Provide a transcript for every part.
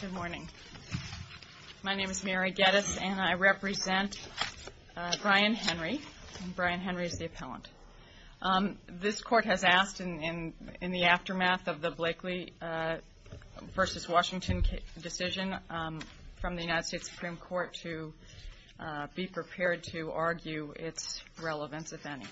Good morning. My name is Mary Geddes and I represent Brian Henry. Brian Henry is the appellant. This court has asked in the aftermath of the Blakely v. Washington decision from the United States Supreme Court to be prepared to argue its relevance if any.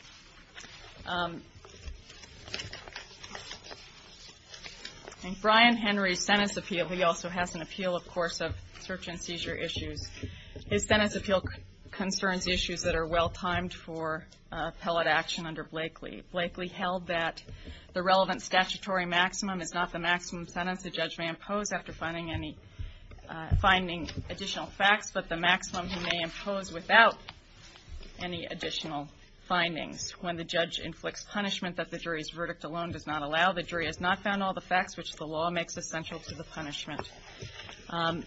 In Brian Henry's sentence appeal, he also has an appeal, of course, of search and seizure issues. His sentence appeal concerns issues that are well-timed for appellate action under Blakely. Blakely held that the relevant statutory maximum is not the maximum sentence the judge may impose after finding additional facts, but the maximum he may impose without any that the jury's verdict alone does not allow. The jury has not found all the facts which the law makes essential to the punishment. Of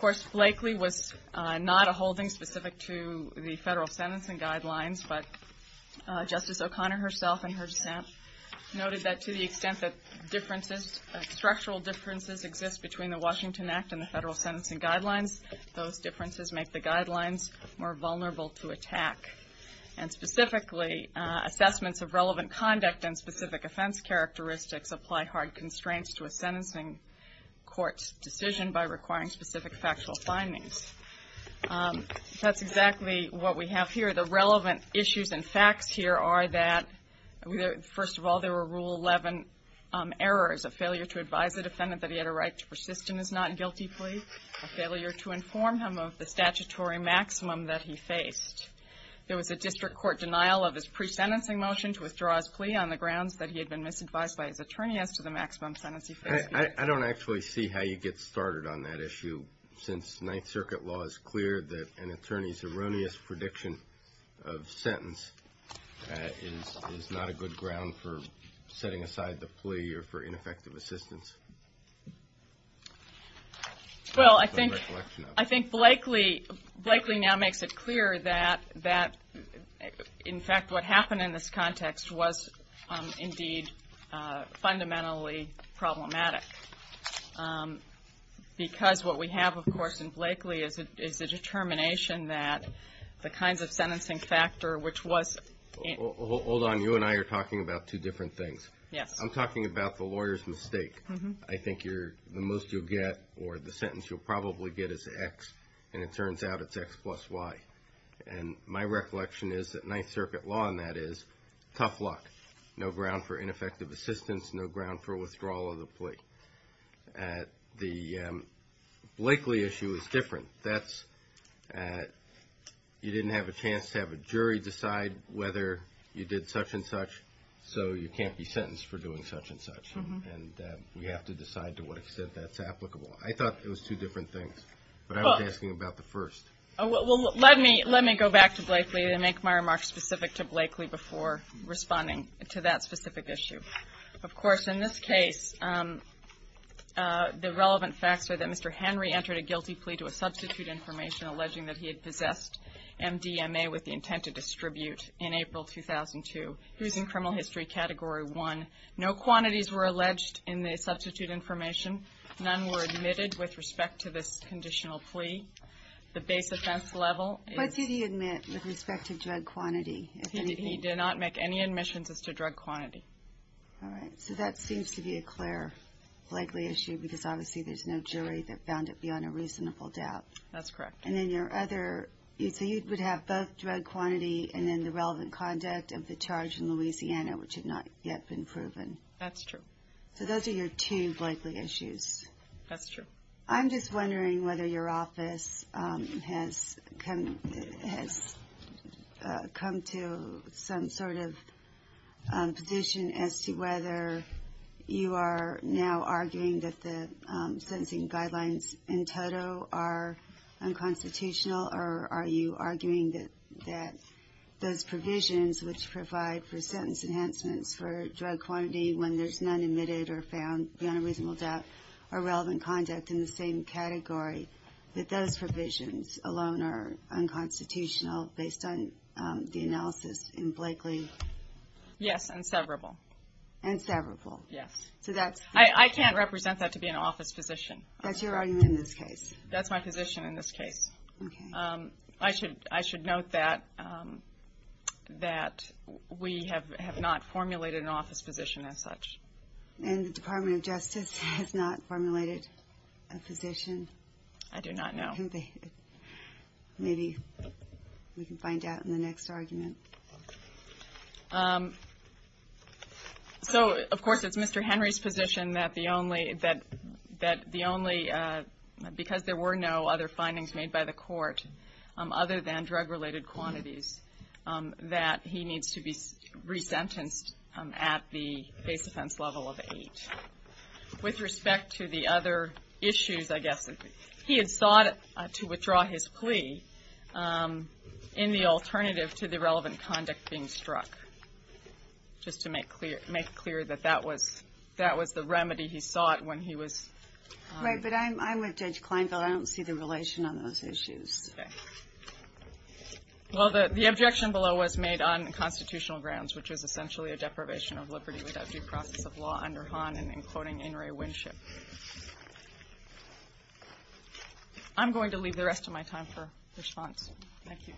course, Blakely was not a holding specific to the federal sentencing guidelines, but Justice O'Connor herself in her stint noted that to the extent that differences, structural differences, exist between the Washington Act and the federal assessments of relevant conduct and specific offense characteristics apply hard constraints to a sentencing court's decision by requiring specific factual findings. That's exactly what we have here. The relevant issues and facts here are that, first of all, there were Rule 11 errors, a failure to advise a defendant that he had a right to persist in his not-guilty plea, a failure to denial of his pre-sentencing motion to withdraw his plea on the grounds that he had been misadvised by his attorney as to the maximum sentence he faced. I don't actually see how you get started on that issue since Ninth Circuit law is clear that an attorney's erroneous prediction of sentence is not a good ground for setting aside the plea or for ineffective assistance. Well, I think, in fact, what happened in this context was, indeed, fundamentally problematic because what we have, of course, in Blakely is a determination that the kinds of sentencing factor which was Hold on. You and I are talking about two different things. Yes. I'm talking about the lawyer's mistake. I think the most you'll get or the sentence you'll probably get is X and it turns out it's X plus Y. My recollection is that Ninth Circuit law on that is tough luck, no ground for ineffective assistance, no ground for withdrawal of the plea. The Blakely issue is different. You didn't have a chance to have a jury decide whether you did such and such, so you can't be sentenced for doing such and such. We have to decide to what extent that's applicable. I thought it was two different things, but I was asking about the first. Let me go back to Blakely and make my remarks specific to Blakely before responding to that specific issue. Of course, in this case, the relevant facts are that Mr. Henry entered a guilty plea to a substitute information alleging that he had possessed MDMA with the intent to distribute in April 2002. He was in criminal history category one. No quantities were alleged in the substitute information. None were admitted with respect to this conditional plea. The base offense level is... But did he admit with respect to drug quantity? He did not make any admissions as to drug quantity. All right. So that seems to be a clear Blakely issue because obviously there's no jury that found it beyond a reasonable doubt. That's correct. So you would have both drug quantity and then the relevant conduct of the charge in Louisiana, which have not yet been proven. That's true. So those are your two Blakely issues. That's true. I'm just wondering whether your office has come to some sort of position as to whether you are now arguing that the sentencing guidelines in toto are unconstitutional or are you arguing that those provisions which provide for sentence enhancements for drug quantity when there's none admitted or found beyond a reasonable doubt are relevant conduct in the same category, that those provisions alone are unconstitutional based on the analysis in Blakely? Yes. And severable. And severable. Yes. So that's... I can't represent that to be an office physician. That's your argument in this case. That's my position in this case. I should note that we have not formulated an office physician as such. And the Department of Justice has not formulated a physician? I do not know. Maybe we can find out in the next argument. So, of course, it's Mr. Henry's position that the only... because there were no other findings made by the court other than drug-related quantities, that he needs to be resentenced at the base offense level of eight. With respect to the other issues, I guess, he had sought to withdraw his plea in the alternative to the relevant conduct being struck, just to make clear that that was the remedy he sought when he was... Right. But I'm with Judge Kleinfeld. I don't see the relation on those issues. Well, the objection below was made on constitutional grounds, which is essentially a deprivation of liberty without due process of law under Hahn and including in re-winship. I'm going to leave the rest of my time for response. Thank you.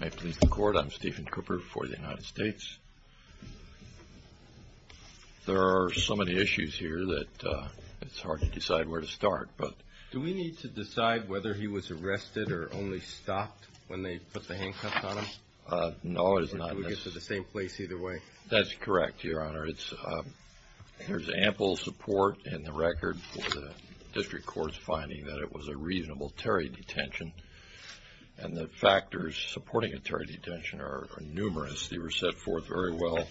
May it please the Court. I'm Stephen Cooper for the United States. There are so many issues here that it's hard to decide where to start. Do we need to decide whether he was arrested or only stopped when they put the handcuffs on him? No, it is not necessary. Or do we get to the same place either way? That's correct, Your Honor. There's ample support in the record for the district courts finding that it was a reasonable Terry detention, and the factors supporting a Terry detention are numerous. They were set forth very well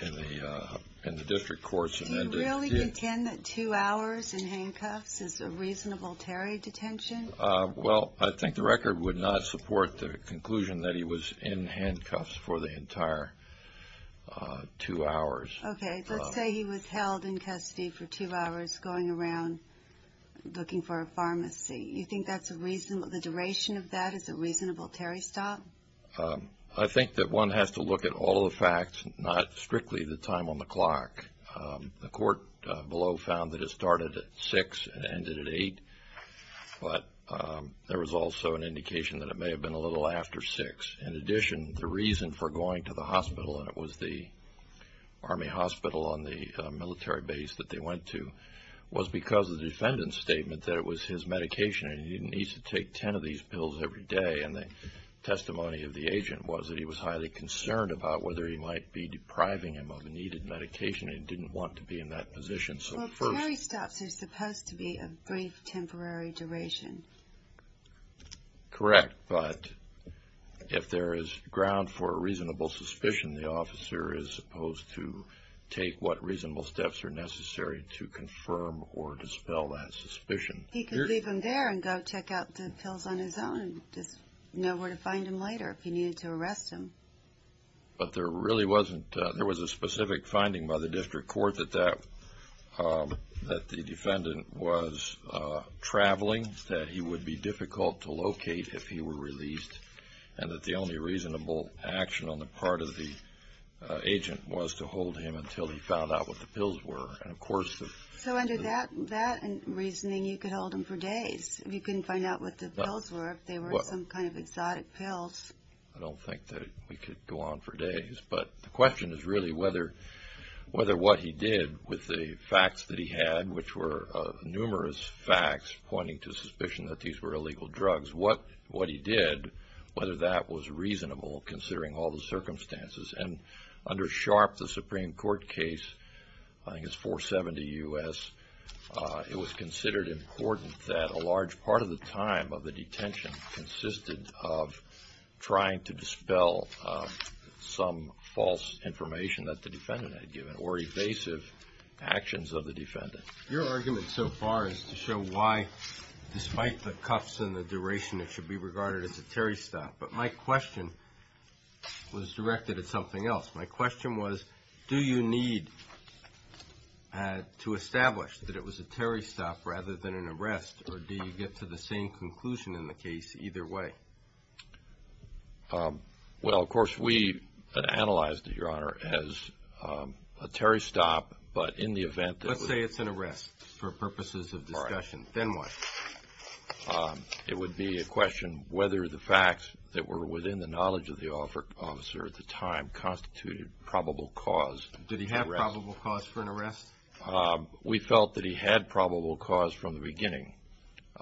in the district courts. Do you really contend that two hours in handcuffs is a reasonable Terry detention? Well, I think the record would not support the conclusion that he was in handcuffs for the entire two hours. Okay. Let's say he was held in custody for two hours going around looking for a pharmacy. You think the duration of that is a reasonable Terry stop? I think that one has to look at all the facts, not strictly the time on the clock. The court below found that it started at 6 and ended at 8. But there was also an indication that it may have been a little after 6. In addition, the reason for going to the hospital, and it was the Army hospital on the military base that they went to, was because the defendant's statement that it was his medication and he needs to take 10 of these pills every day. And the testimony of the agent was that he was highly concerned about whether he might be depriving him of a needed medication and didn't want to be in that position. Well, Terry stops are supposed to be a brief, temporary duration. Correct, but if there is ground for a reasonable suspicion, the officer is supposed to take what reasonable steps are necessary to confirm or dispel that suspicion. He could leave him there and go check out the pills on his own and just know where to find him later if he needed to arrest him. But there was a specific finding by the district court that the defendant was traveling, that he would be difficult to locate if he were released, and that the only reasonable action on the part of the agent was to hold him until he found out what the pills were. So under that reasoning, you could hold him for days. You couldn't find out what the pills were if they were some kind of exotic pills. I don't think that we could go on for days. But the question is really whether what he did with the facts that he had, which were numerous facts pointing to suspicion that these were illegal drugs, what he did, whether that was reasonable considering all the circumstances. And under SHARP, the Supreme Court case, I think it's 470 U.S., it was considered important that a large part of the time of the detention consisted of trying to dispel some false information that the defendant had given or evasive actions of the defendant. Your argument so far is to show why, despite the cuffs and the duration, it should be regarded as a Terry stop. But my question was directed at something else. My question was, do you need to establish that it was a Terry stop rather than an arrest, or do you get to the same conclusion in the case either way? Well, of course, we analyzed it, Your Honor, as a Terry stop, but in the event that it was… Let's say it's an arrest for purposes of discussion. All right. Then what? It would be a question whether the facts that were within the knowledge of the officer at the time constituted probable cause. Did he have probable cause for an arrest? We felt that he had probable cause from the beginning.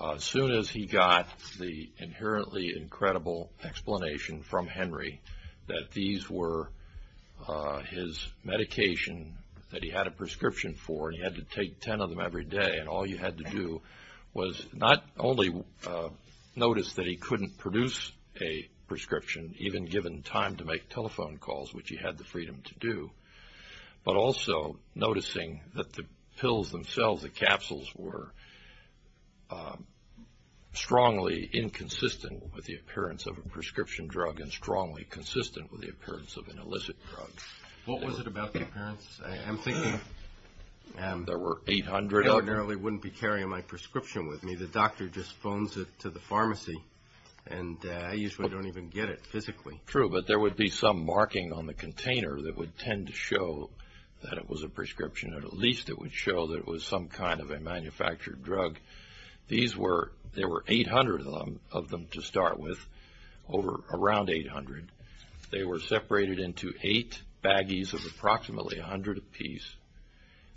As soon as he got the inherently incredible explanation from Henry that these were his medication that he had a prescription for and he had to take ten of them every day and all he had to do was not only notice that he couldn't produce a prescription, even given time to make telephone calls, which he had the freedom to do, but also noticing that the pills themselves, the capsules, were strongly inconsistent with the appearance of a prescription drug and strongly consistent with the appearance of an illicit drug. What was it about the appearance? I'm thinking… There were 800 of them. I ordinarily wouldn't be carrying my prescription with me. The doctor just phones it to the pharmacy and I usually don't even get it physically. True, but there would be some marking on the container that would tend to show that it was a prescription or at least it would show that it was some kind of a manufactured drug. There were 800 of them to start with, around 800. They were separated into eight baggies of approximately 100 apiece.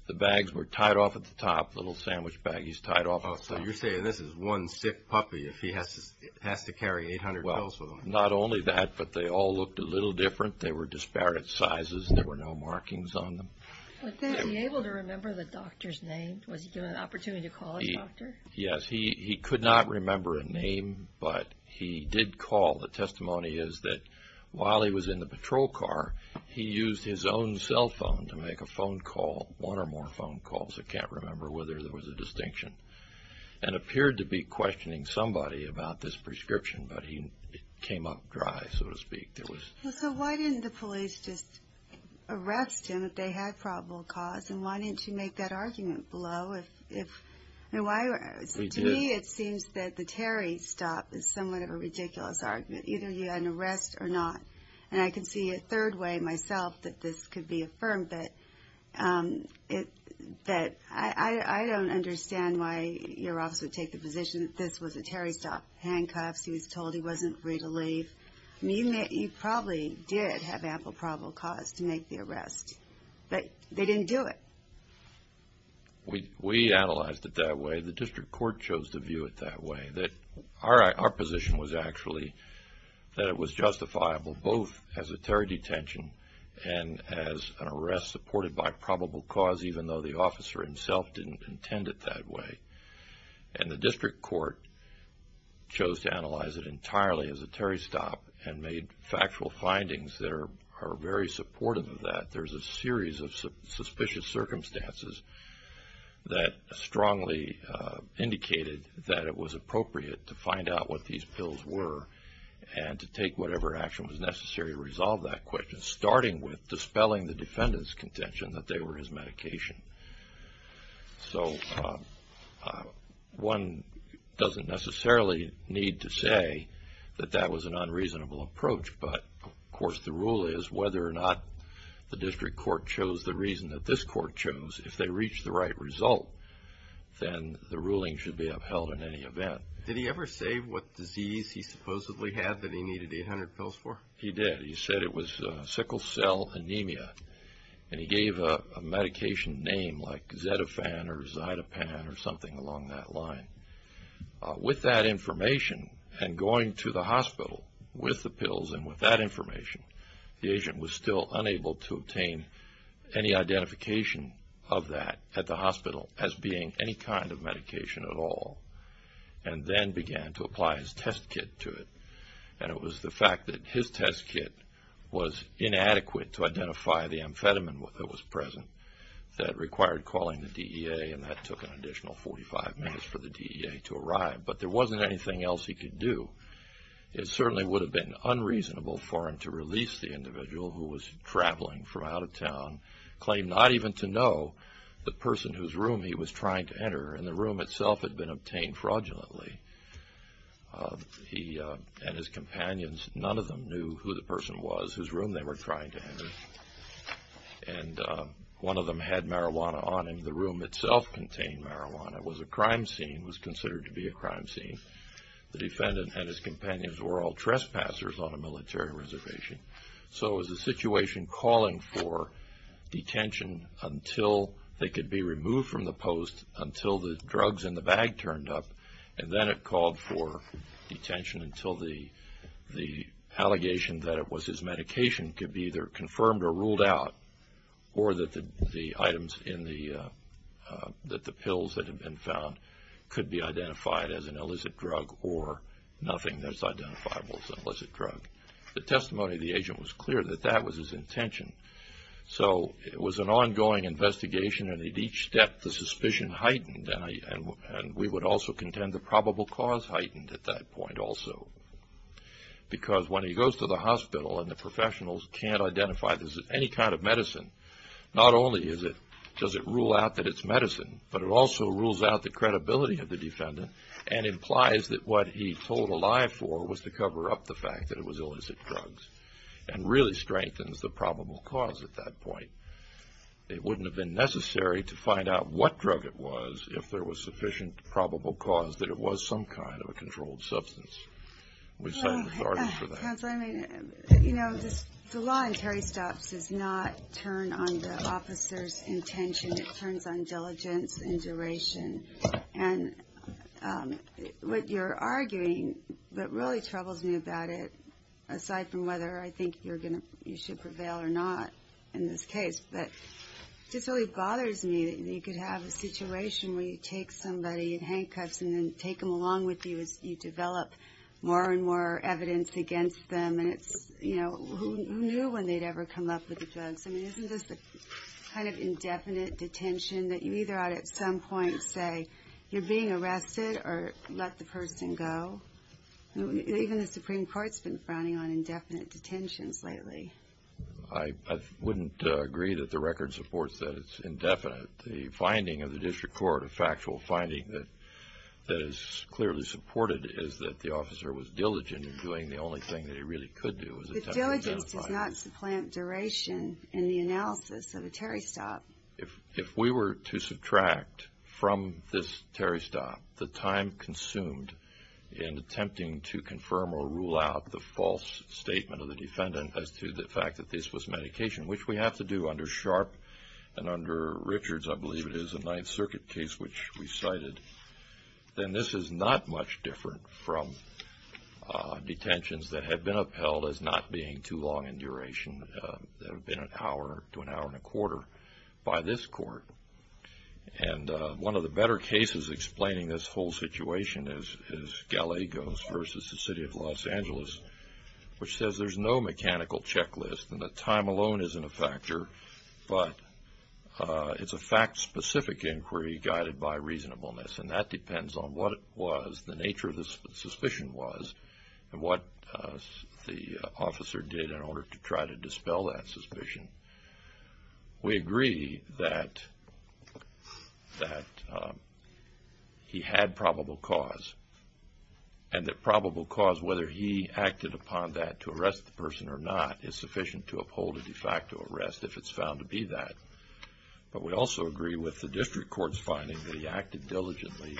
The bags were tied off at the top, little sandwich baggies tied off at the top. So you're saying this is one sick puppy if he has to carry 800 pills with him. Well, not only that, but they all looked a little different. They were disparate sizes and there were no markings on them. Was he able to remember the doctor's name? Was he given an opportunity to call his doctor? Yes, he could not remember a name, but he did call. The testimony is that while he was in the patrol car, he used his own cell phone to make a phone call, one or more phone calls. He can't remember whether there was a distinction and appeared to be questioning somebody about this prescription, but it came up dry, so to speak. So why didn't the police just arrest him if they had probable cause and why didn't you make that argument below? To me, it seems that the Terry stop is somewhat of a ridiculous argument. Either you had an arrest or not. And I can see a third way myself that this could be affirmed, but I don't understand why your officer would take the position that this was a Terry stop. Handcuffs, he was told he wasn't free to leave. You probably did have ample probable cause to make the arrest, but they didn't do it. We analyzed it that way. The district court chose to view it that way. Our position was actually that it was justifiable both as a Terry detention and as an arrest supported by probable cause even though the officer himself didn't intend it that way. And the district court chose to analyze it entirely as a Terry stop and made factual findings that are very supportive of that. There's a series of suspicious circumstances that strongly indicated that it was appropriate to find out what these pills were and to take whatever action was necessary to resolve that question, starting with dispelling the defendant's contention that they were his medication. So one doesn't necessarily need to say that that was an unreasonable approach, but of course the rule is whether or not the district court chose the reason that this court chose, if they reached the right result, then the ruling should be upheld in any event. Did he ever say what disease he supposedly had that he needed 800 pills for? He did. He said it was sickle cell anemia, and he gave a medication name like Xetaphan or Zytophan or something along that line. With that information and going to the hospital with the pills and with that information, the agent was still unable to obtain any identification of that at the hospital as being any kind of medication at all and then began to apply his test kit to it. And it was the fact that his test kit was inadequate to identify the amphetamine that was present that required calling the DEA, and that took an additional 45 minutes for the DEA to arrive. But there wasn't anything else he could do. It certainly would have been unreasonable for him to release the individual who was traveling from out of town, claim not even to know the person whose room he was trying to enter, and the room itself had been obtained fraudulently. He and his companions, none of them knew who the person was whose room they were trying to enter and one of them had marijuana on him. The room itself contained marijuana. It was a crime scene. It was considered to be a crime scene. The defendant and his companions were all trespassers on a military reservation. So it was a situation calling for detention until they could be removed from the post, until the drugs in the bag turned up, and then it called for detention until the allegation that it was his medication could be either confirmed or ruled out, or that the items in the – that the pills that had been found could be identified as an illicit drug or nothing that's identifiable as an illicit drug. The testimony of the agent was clear that that was his intention. So it was an ongoing investigation, and at each step the suspicion heightened, and we would also contend the probable cause heightened at that point also, because when he goes to the hospital and the professionals can't identify this as any kind of medicine, not only is it – does it rule out that it's medicine, but it also rules out the credibility of the defendant and implies that what he told a lie for was to cover up the fact that it was illicit drugs and really strengthens the probable cause at that point. It wouldn't have been necessary to find out what drug it was if there was sufficient probable cause that it was some kind of a controlled substance. We thank the court for that. Counsel, I mean, you know, the law in Terry Stubbs does not turn on the officer's intention. It turns on diligence and duration. And what you're arguing that really troubles me about it, aside from whether I think you're going to – you should prevail or not in this case, but it just really bothers me that you could have a situation where you take somebody in handcuffs and then take them along with you as you develop more and more evidence against them, and it's, you know, who knew when they'd ever come up with the drugs? I mean, isn't this the kind of indefinite detention that you either ought to at some point say, you're being arrested or let the person go? Even the Supreme Court's been frowning on indefinite detentions lately. I wouldn't agree that the record supports that it's indefinite. The finding of the district court, a factual finding that is clearly supported, is that the officer was diligent in doing the only thing that he really could do. The diligence does not supplant duration in the analysis of a Terry Stubb. If we were to subtract from this Terry Stubb the time consumed in attempting to confirm or rule out the false statement of the defendant as to the fact that this was medication, which we have to do under Sharp and under Richards, I believe it is, a Ninth Circuit case which we cited, then this is not much different from detentions that have been upheld as not being too long in duration, that have been an hour to an hour and a quarter by this court. And one of the better cases explaining this whole situation is Gallegos versus the City of Los Angeles, which says there's no mechanical checklist and the time alone isn't a factor, but it's a fact-specific inquiry guided by reasonableness, and that depends on what it was, the nature of the suspicion was, and what the officer did in order to try to dispel that suspicion. We agree that he had probable cause, and that probable cause, whether he acted upon that to arrest the person or not, is sufficient to uphold a de facto arrest if it's found to be that. But we also agree with the district court's finding that he acted diligently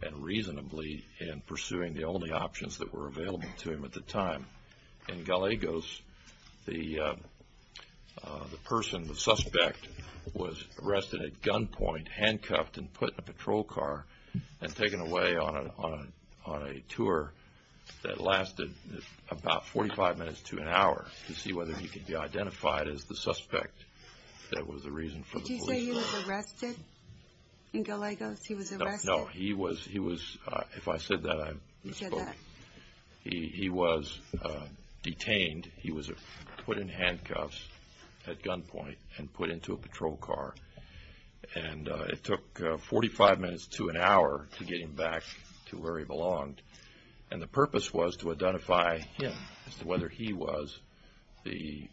and reasonably in pursuing the only options that were available to him at the time. In Gallegos, the person, the suspect, was arrested at gunpoint, handcuffed, and put in a patrol car and taken away on a tour that lasted about 45 minutes to an hour to see whether he could be identified as the suspect that was the reason for the police. Did you say he was arrested in Gallegos? No, he was, if I said that, he was detained, he was put in handcuffs at gunpoint and put into a patrol car, and it took 45 minutes to an hour to get him back to where he belonged, and the purpose was to identify him, as to whether he was the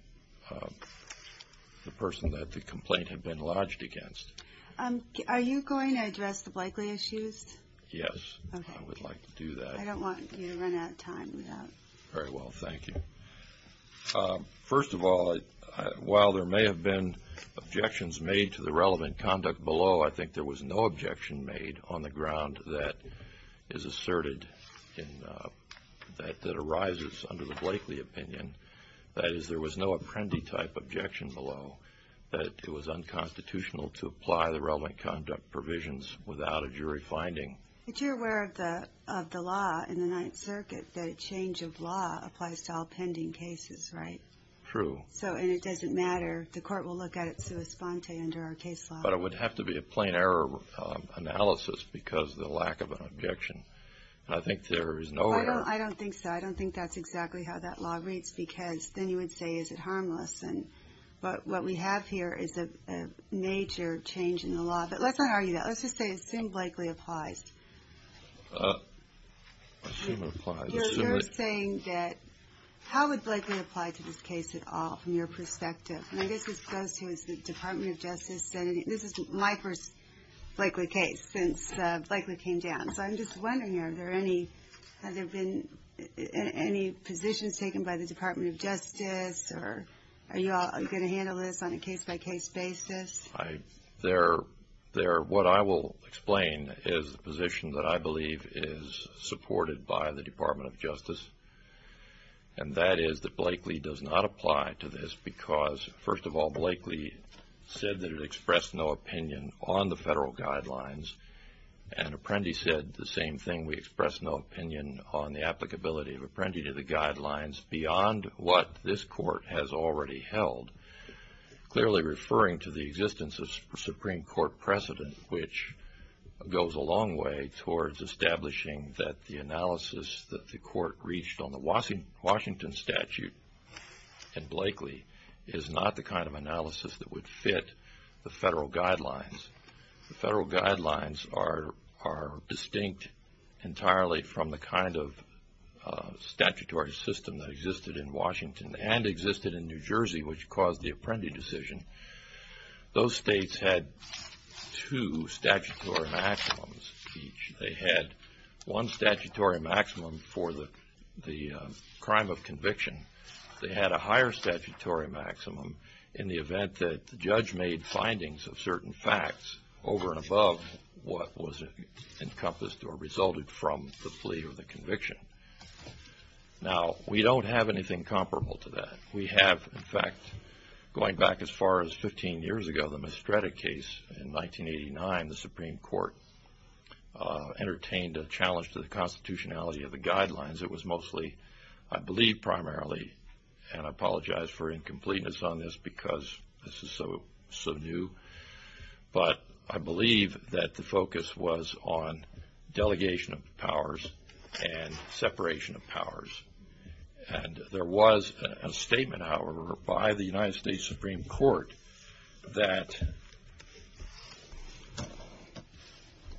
person that the complaint had been lodged against. Are you going to address the Blakeley issues? Yes, I would like to do that. I don't want you to run out of time. Very well, thank you. First of all, while there may have been objections made to the relevant conduct below, I think there was no objection made on the ground that is asserted, that arises under the Blakeley opinion. That is, there was no Apprendi-type objection below, that it was unconstitutional to apply the relevant conduct provisions without a jury finding. But you're aware of the law in the Ninth Circuit, that a change of law applies to all pending cases, right? True. And it doesn't matter, the court will look at it sua sponte under our case law. But it would have to be a plain error analysis because of the lack of an objection. I think there is no error. I don't think so. I don't think that's exactly how that law reads, because then you would say, is it harmless? And what we have here is a major change in the law. But let's not argue that. Let's just say assume Blakeley applies. Assume it applies. You're saying that how would Blakeley apply to this case at all from your perspective? And I guess this goes to the Department of Justice. This is my first Blakeley case since Blakeley came down. So I'm just wondering, have there been any positions taken by the Department of Justice? Are you all going to handle this on a case-by-case basis? What I will explain is the position that I believe is supported by the Department of Justice, and that is that Blakeley does not apply to this because, first of all, Blakeley said that it expressed no opinion on the federal guidelines, and Apprendi said the same thing. We expressed no opinion on the applicability of Apprendi to the guidelines beyond what this court has already held, clearly referring to the existence of Supreme Court precedent, which goes a long way towards establishing that the analysis that the court reached on the Washington statute and Blakeley is not the kind of analysis that would fit the federal guidelines. The federal guidelines are distinct entirely from the kind of statutory system that existed in Washington and existed in New Jersey, which caused the Apprendi decision. Those states had two statutory maximums each. They had one statutory maximum for the crime of conviction. They had a higher statutory maximum in the event that the judge made findings of certain facts over and above what was encompassed or resulted from the plea or the conviction. Now, we don't have anything comparable to that. We have, in fact, going back as far as 15 years ago, the Mestreda case in 1989, the Supreme Court entertained a challenge to the constitutionality of the guidelines. It was mostly, I believe, primarily, and I apologize for incompleteness on this because this is so new, but I believe that the focus was on delegation of powers and separation of powers. And there was a statement, however, by the United States Supreme Court that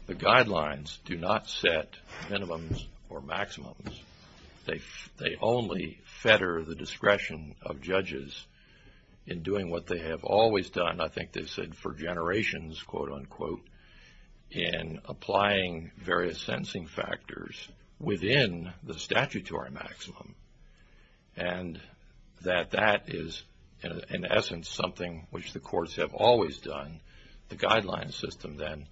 the guidelines do not set minimums or maximums. They only fetter the discretion of judges in doing what they have always done. And I think they said for generations, quote, unquote, in applying various sensing factors within the statutory maximum. And that that is, in essence, something which the courts have always done. The guidelines system, then,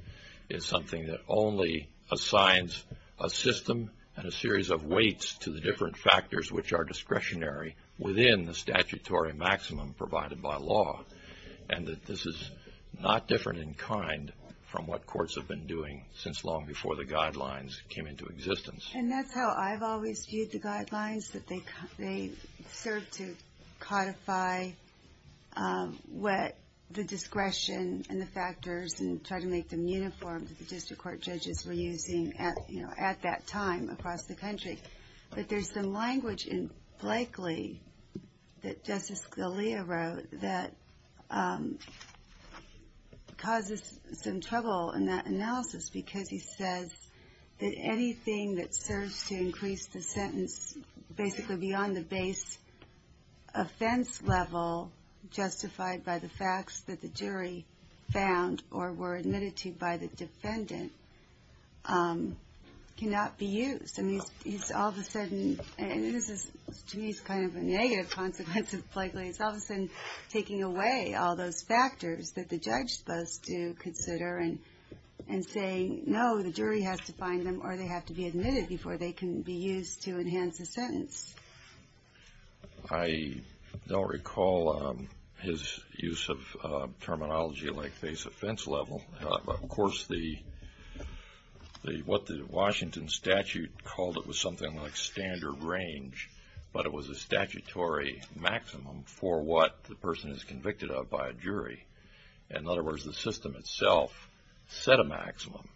is something that only assigns a system and a series of weights to the different factors which are discretionary within the statutory maximum provided by law. And that this is not different in kind from what courts have been doing since long before the guidelines came into existence. And that's how I've always viewed the guidelines, that they serve to codify the discretion and the factors and try to make them uniform to the district court judges we're using at that time across the country. But there's some language in Blakely that Justice Scalia wrote that causes some trouble in that analysis because he says that anything that serves to increase the sentence basically beyond the base offense level justified by the facts that the jury found or were admitted to by the defendant cannot be used. And he's all of a sudden, and this is to me kind of a negative consequence of Blakely, it's all of a sudden taking away all those factors that the judge is supposed to consider and saying no, the jury has to find them or they have to be admitted before they can be used to enhance the sentence. I don't recall his use of terminology like base offense level. Of course, what the Washington statute called it was something like standard range, but it was a statutory maximum for what the person is convicted of by a jury. In other words, the system itself set a maximum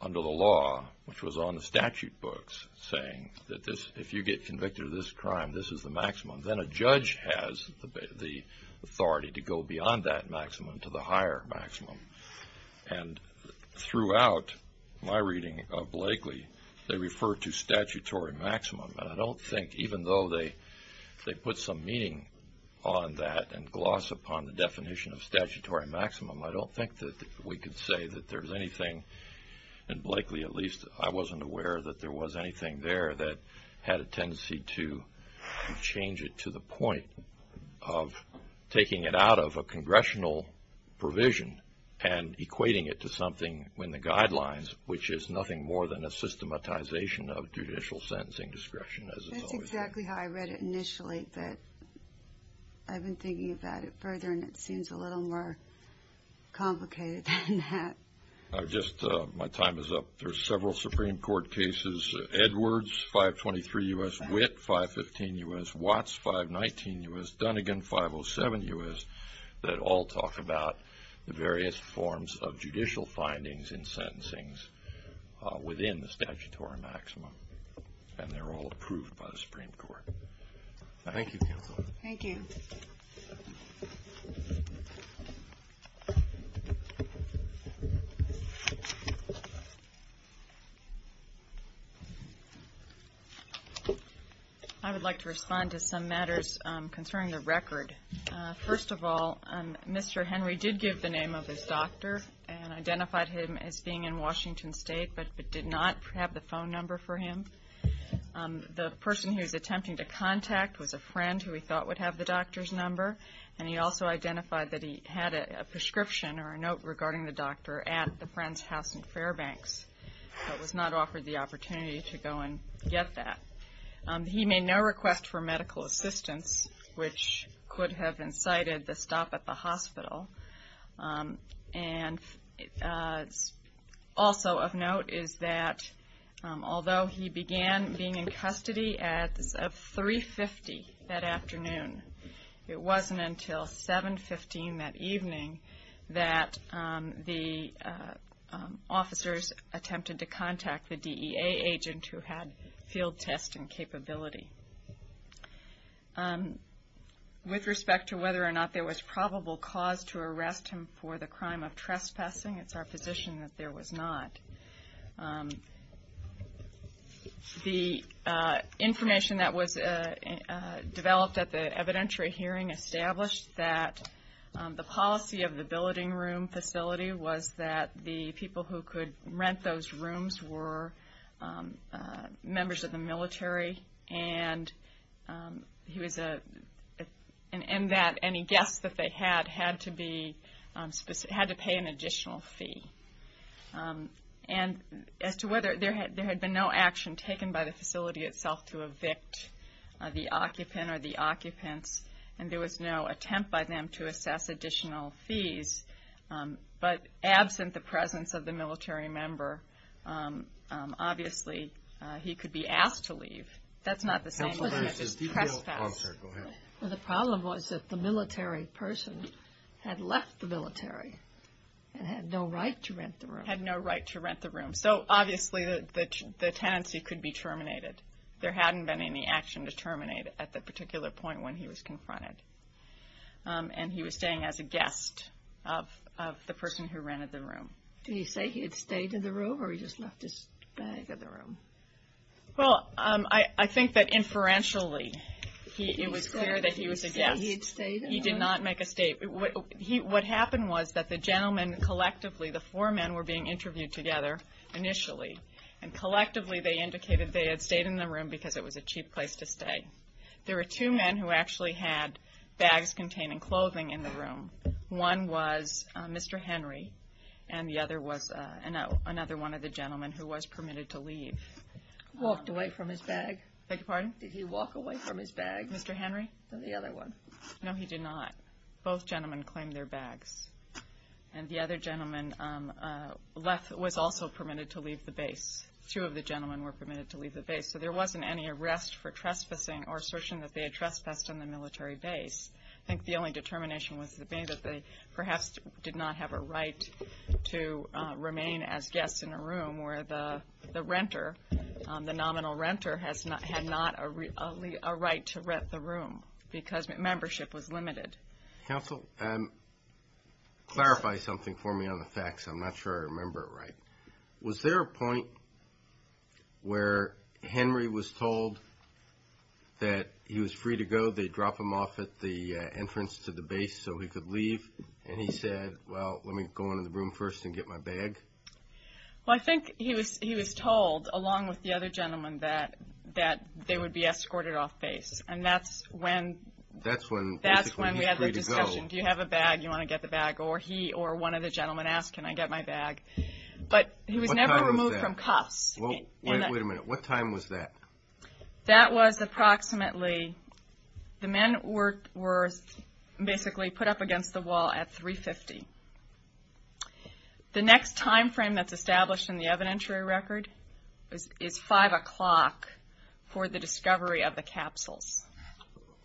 under the law, which was on the statute books, saying that if you get convicted of this crime, this is the maximum. Then a judge has the authority to go beyond that maximum to the higher maximum. And throughout my reading of Blakely, they refer to statutory maximum, and I don't think even though they put some meaning on that and gloss upon the definition of statutory maximum, I don't think that we could say that there's anything, in Blakely at least, I wasn't aware that there was anything there that had a tendency to change it to the point of taking it out of a congressional provision and equating it to something in the guidelines, which is nothing more than a systematization of judicial sentencing discretion. That's exactly how I read it initially, but I've been thinking about it further, and it seems a little more complicated than that. My time is up. There are several Supreme Court cases, Edwards, 523 U.S., Witt, 515 U.S., Watts, 519 U.S., Dunnigan, 507 U.S., that all talk about the various forms of judicial findings in sentencings within the statutory maximum, and they're all approved by the Supreme Court. Thank you, counsel. Thank you. Thank you. I would like to respond to some matters concerning the record. First of all, Mr. Henry did give the name of his doctor and identified him as being in Washington State but did not have the phone number for him. The person he was attempting to contact was a friend who he thought would have the doctor's number, and he also identified that he had a prescription or a note regarding the doctor at the friend's house in Fairbanks but was not offered the opportunity to go and get that. He made no request for medical assistance, which could have incited the stop at the hospital. And also of note is that although he began being in custody at 3.50 that afternoon, it wasn't until 7.15 that evening that the officers attempted to contact the DEA agent who had field testing capability. With respect to whether or not there was probable cause to arrest him for the crime of trespassing, it's our position that there was not. The information that was developed at the evidentiary hearing established that the policy of the billeting room facility was that the people who could rent those rooms were members of the military and that any guests that they had had to pay an additional fee. And as to whether there had been no action taken by the facility itself to evict the occupant or the occupants, and there was no attempt by them to assess additional fees, but absent the presence of the military member, obviously he could be asked to leave. That's not the same as trespassing. The problem was that the military person had left the military and had no right to rent the room. Had no right to rent the room. So obviously the tenancy could be terminated. There hadn't been any action to terminate at that particular point when he was confronted. And he was staying as a guest of the person who rented the room. Did he say he had stayed in the room or he just left his bag in the room? Well, I think that inferentially it was clear that he was a guest. He did not make a statement. What happened was that the gentlemen collectively, the four men were being interviewed together initially, and collectively they indicated they had stayed in the room because it was a cheap place to stay. There were two men who actually had bags containing clothing in the room. One was Mr. Henry and the other was another one of the gentlemen who was permitted to leave. Walked away from his bag? Beg your pardon? Did he walk away from his bag? Mr. Henry? No, the other one. No, he did not. Both gentlemen claimed their bags. And the other gentleman was also permitted to leave the base. Two of the gentlemen were permitted to leave the base. So there wasn't any arrest for trespassing or assertion that they had trespassed on the military base. I think the only determination was that they perhaps did not have a right to remain as guests in a room where the renter, the nominal renter, had not a right to rent the room because membership was limited. Counsel, clarify something for me on the facts. I'm not sure I remember it right. Was there a point where Henry was told that he was free to go, they'd drop him off at the entrance to the base so he could leave, and he said, well, let me go into the room first and get my bag? Well, I think he was told, along with the other gentleman, that they would be escorted off base. And that's when he was free to go. That's when we had the discussion, do you have a bag, do you want to get the bag? Or he or one of the gentlemen asked, can I get my bag? But he was never removed from cuffs. Wait a minute, what time was that? That was approximately, the men were basically put up against the wall at 3.50. The next time frame that's established in the evidentiary record is 5 o'clock for the discovery of the capsules.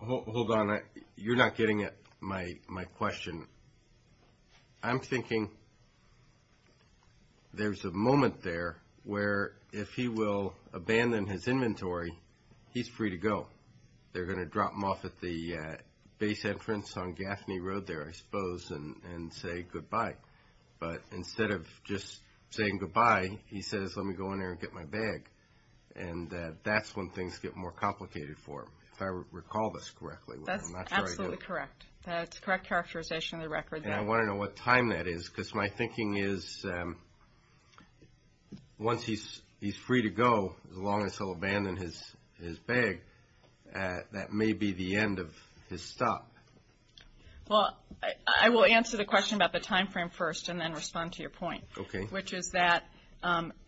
Hold on, you're not getting at my question. I'm thinking there's a moment there where if he will abandon his inventory, he's free to go. They're going to drop him off at the base entrance on Gaffney Road there, I suppose, and say goodbye. But instead of just saying goodbye, he says, let me go in there and get my bag. And that's when things get more complicated for him, if I recall this correctly. That's absolutely correct. That's the correct characterization of the record. And I want to know what time that is, because my thinking is once he's free to go, as long as he'll abandon his bag, that may be the end of his stop. Well, I will answer the question about the time frame first and then respond to your point. Okay.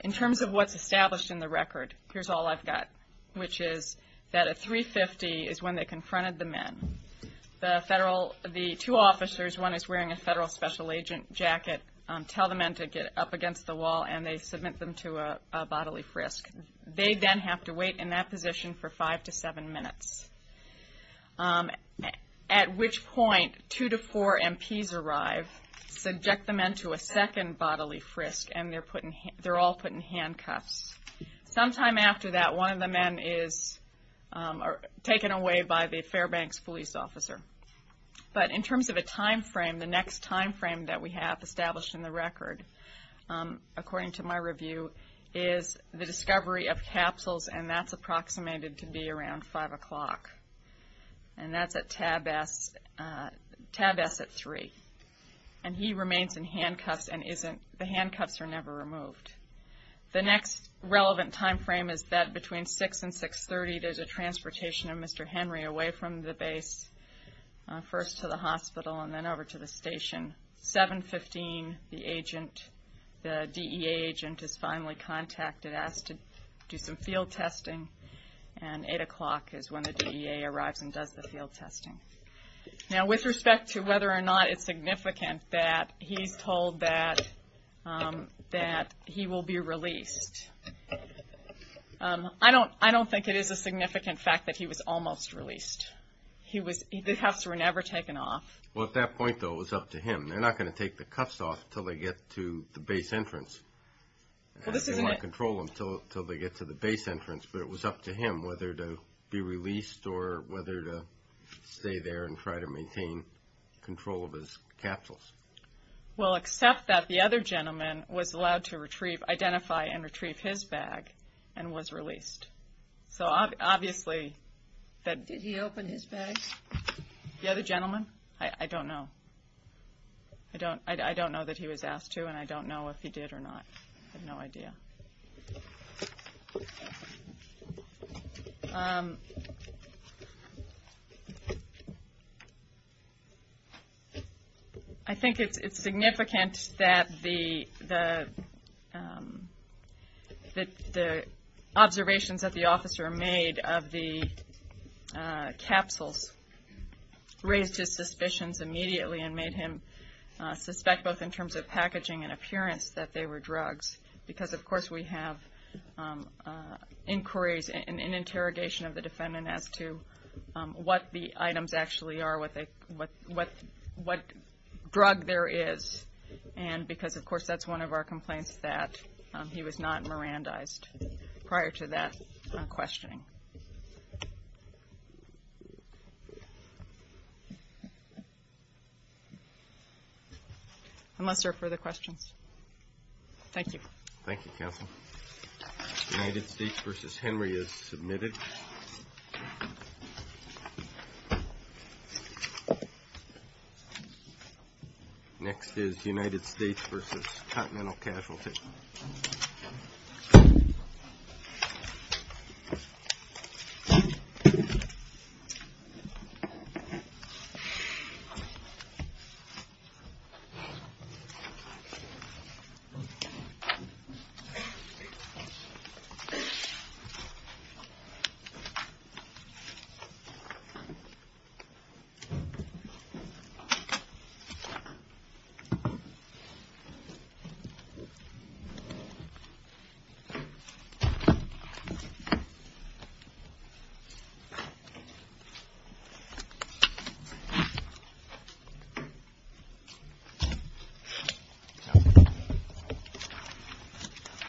In terms of what's established in the record, here's all I've got, which is that at 3.50 is when they confronted the men. The two officers, one is wearing a federal special agent jacket, tell the men to get up against the wall, and they submit them to a bodily frisk. They then have to wait in that position for five to seven minutes, at which point two to four MPs arrive, subject the men to a second bodily frisk, and they're all put in handcuffs. Sometime after that, one of the men is taken away by the Fairbanks police officer. But in terms of a time frame, the next time frame that we have established in the record, according to my review, is the discovery of capsules, and that's approximated to be around 5 o'clock, and that's at Tab S at 3. And he remains in handcuffs, and the handcuffs are never removed. The next relevant time frame is that between 6 and 6.30, there's a transportation of Mr. Henry away from the base, first to the hospital, and then over to the station. 7.15, the DEA agent is finally contacted, asked to do some field testing, and 8 o'clock is when the DEA arrives and does the field testing. Now, with respect to whether or not it's significant that he's told that he will be released, I don't think it is a significant fact that he was almost released. The cuffs were never taken off. Well, at that point, though, it was up to him. They're not going to take the cuffs off until they get to the base entrance. They might control them until they get to the base entrance, but it was up to him whether to be released or whether to stay there and try to maintain control of his capsules. Well, except that the other gentleman was allowed to identify and retrieve his bag and was released. So obviously that... Did he open his bag? The other gentleman? I don't know. I don't know that he was asked to, and I don't know if he did or not. I have no idea. I think it's significant that the observations that the officer made of the capsules raised his suspicions immediately and made him suspect, both in terms of packaging and appearance, that they were drugs. Because, of course, we have inquiries and interrogation of the defendant as to what the items actually are, what drug there is, and because, of course, that's one of our complaints that he was not Mirandized prior to that questioning. Unless there are further questions. Thank you. Thank you, Counsel. United States v. Henry is submitted. Next is United States v. Continental Casualty. Thank you. Thank you.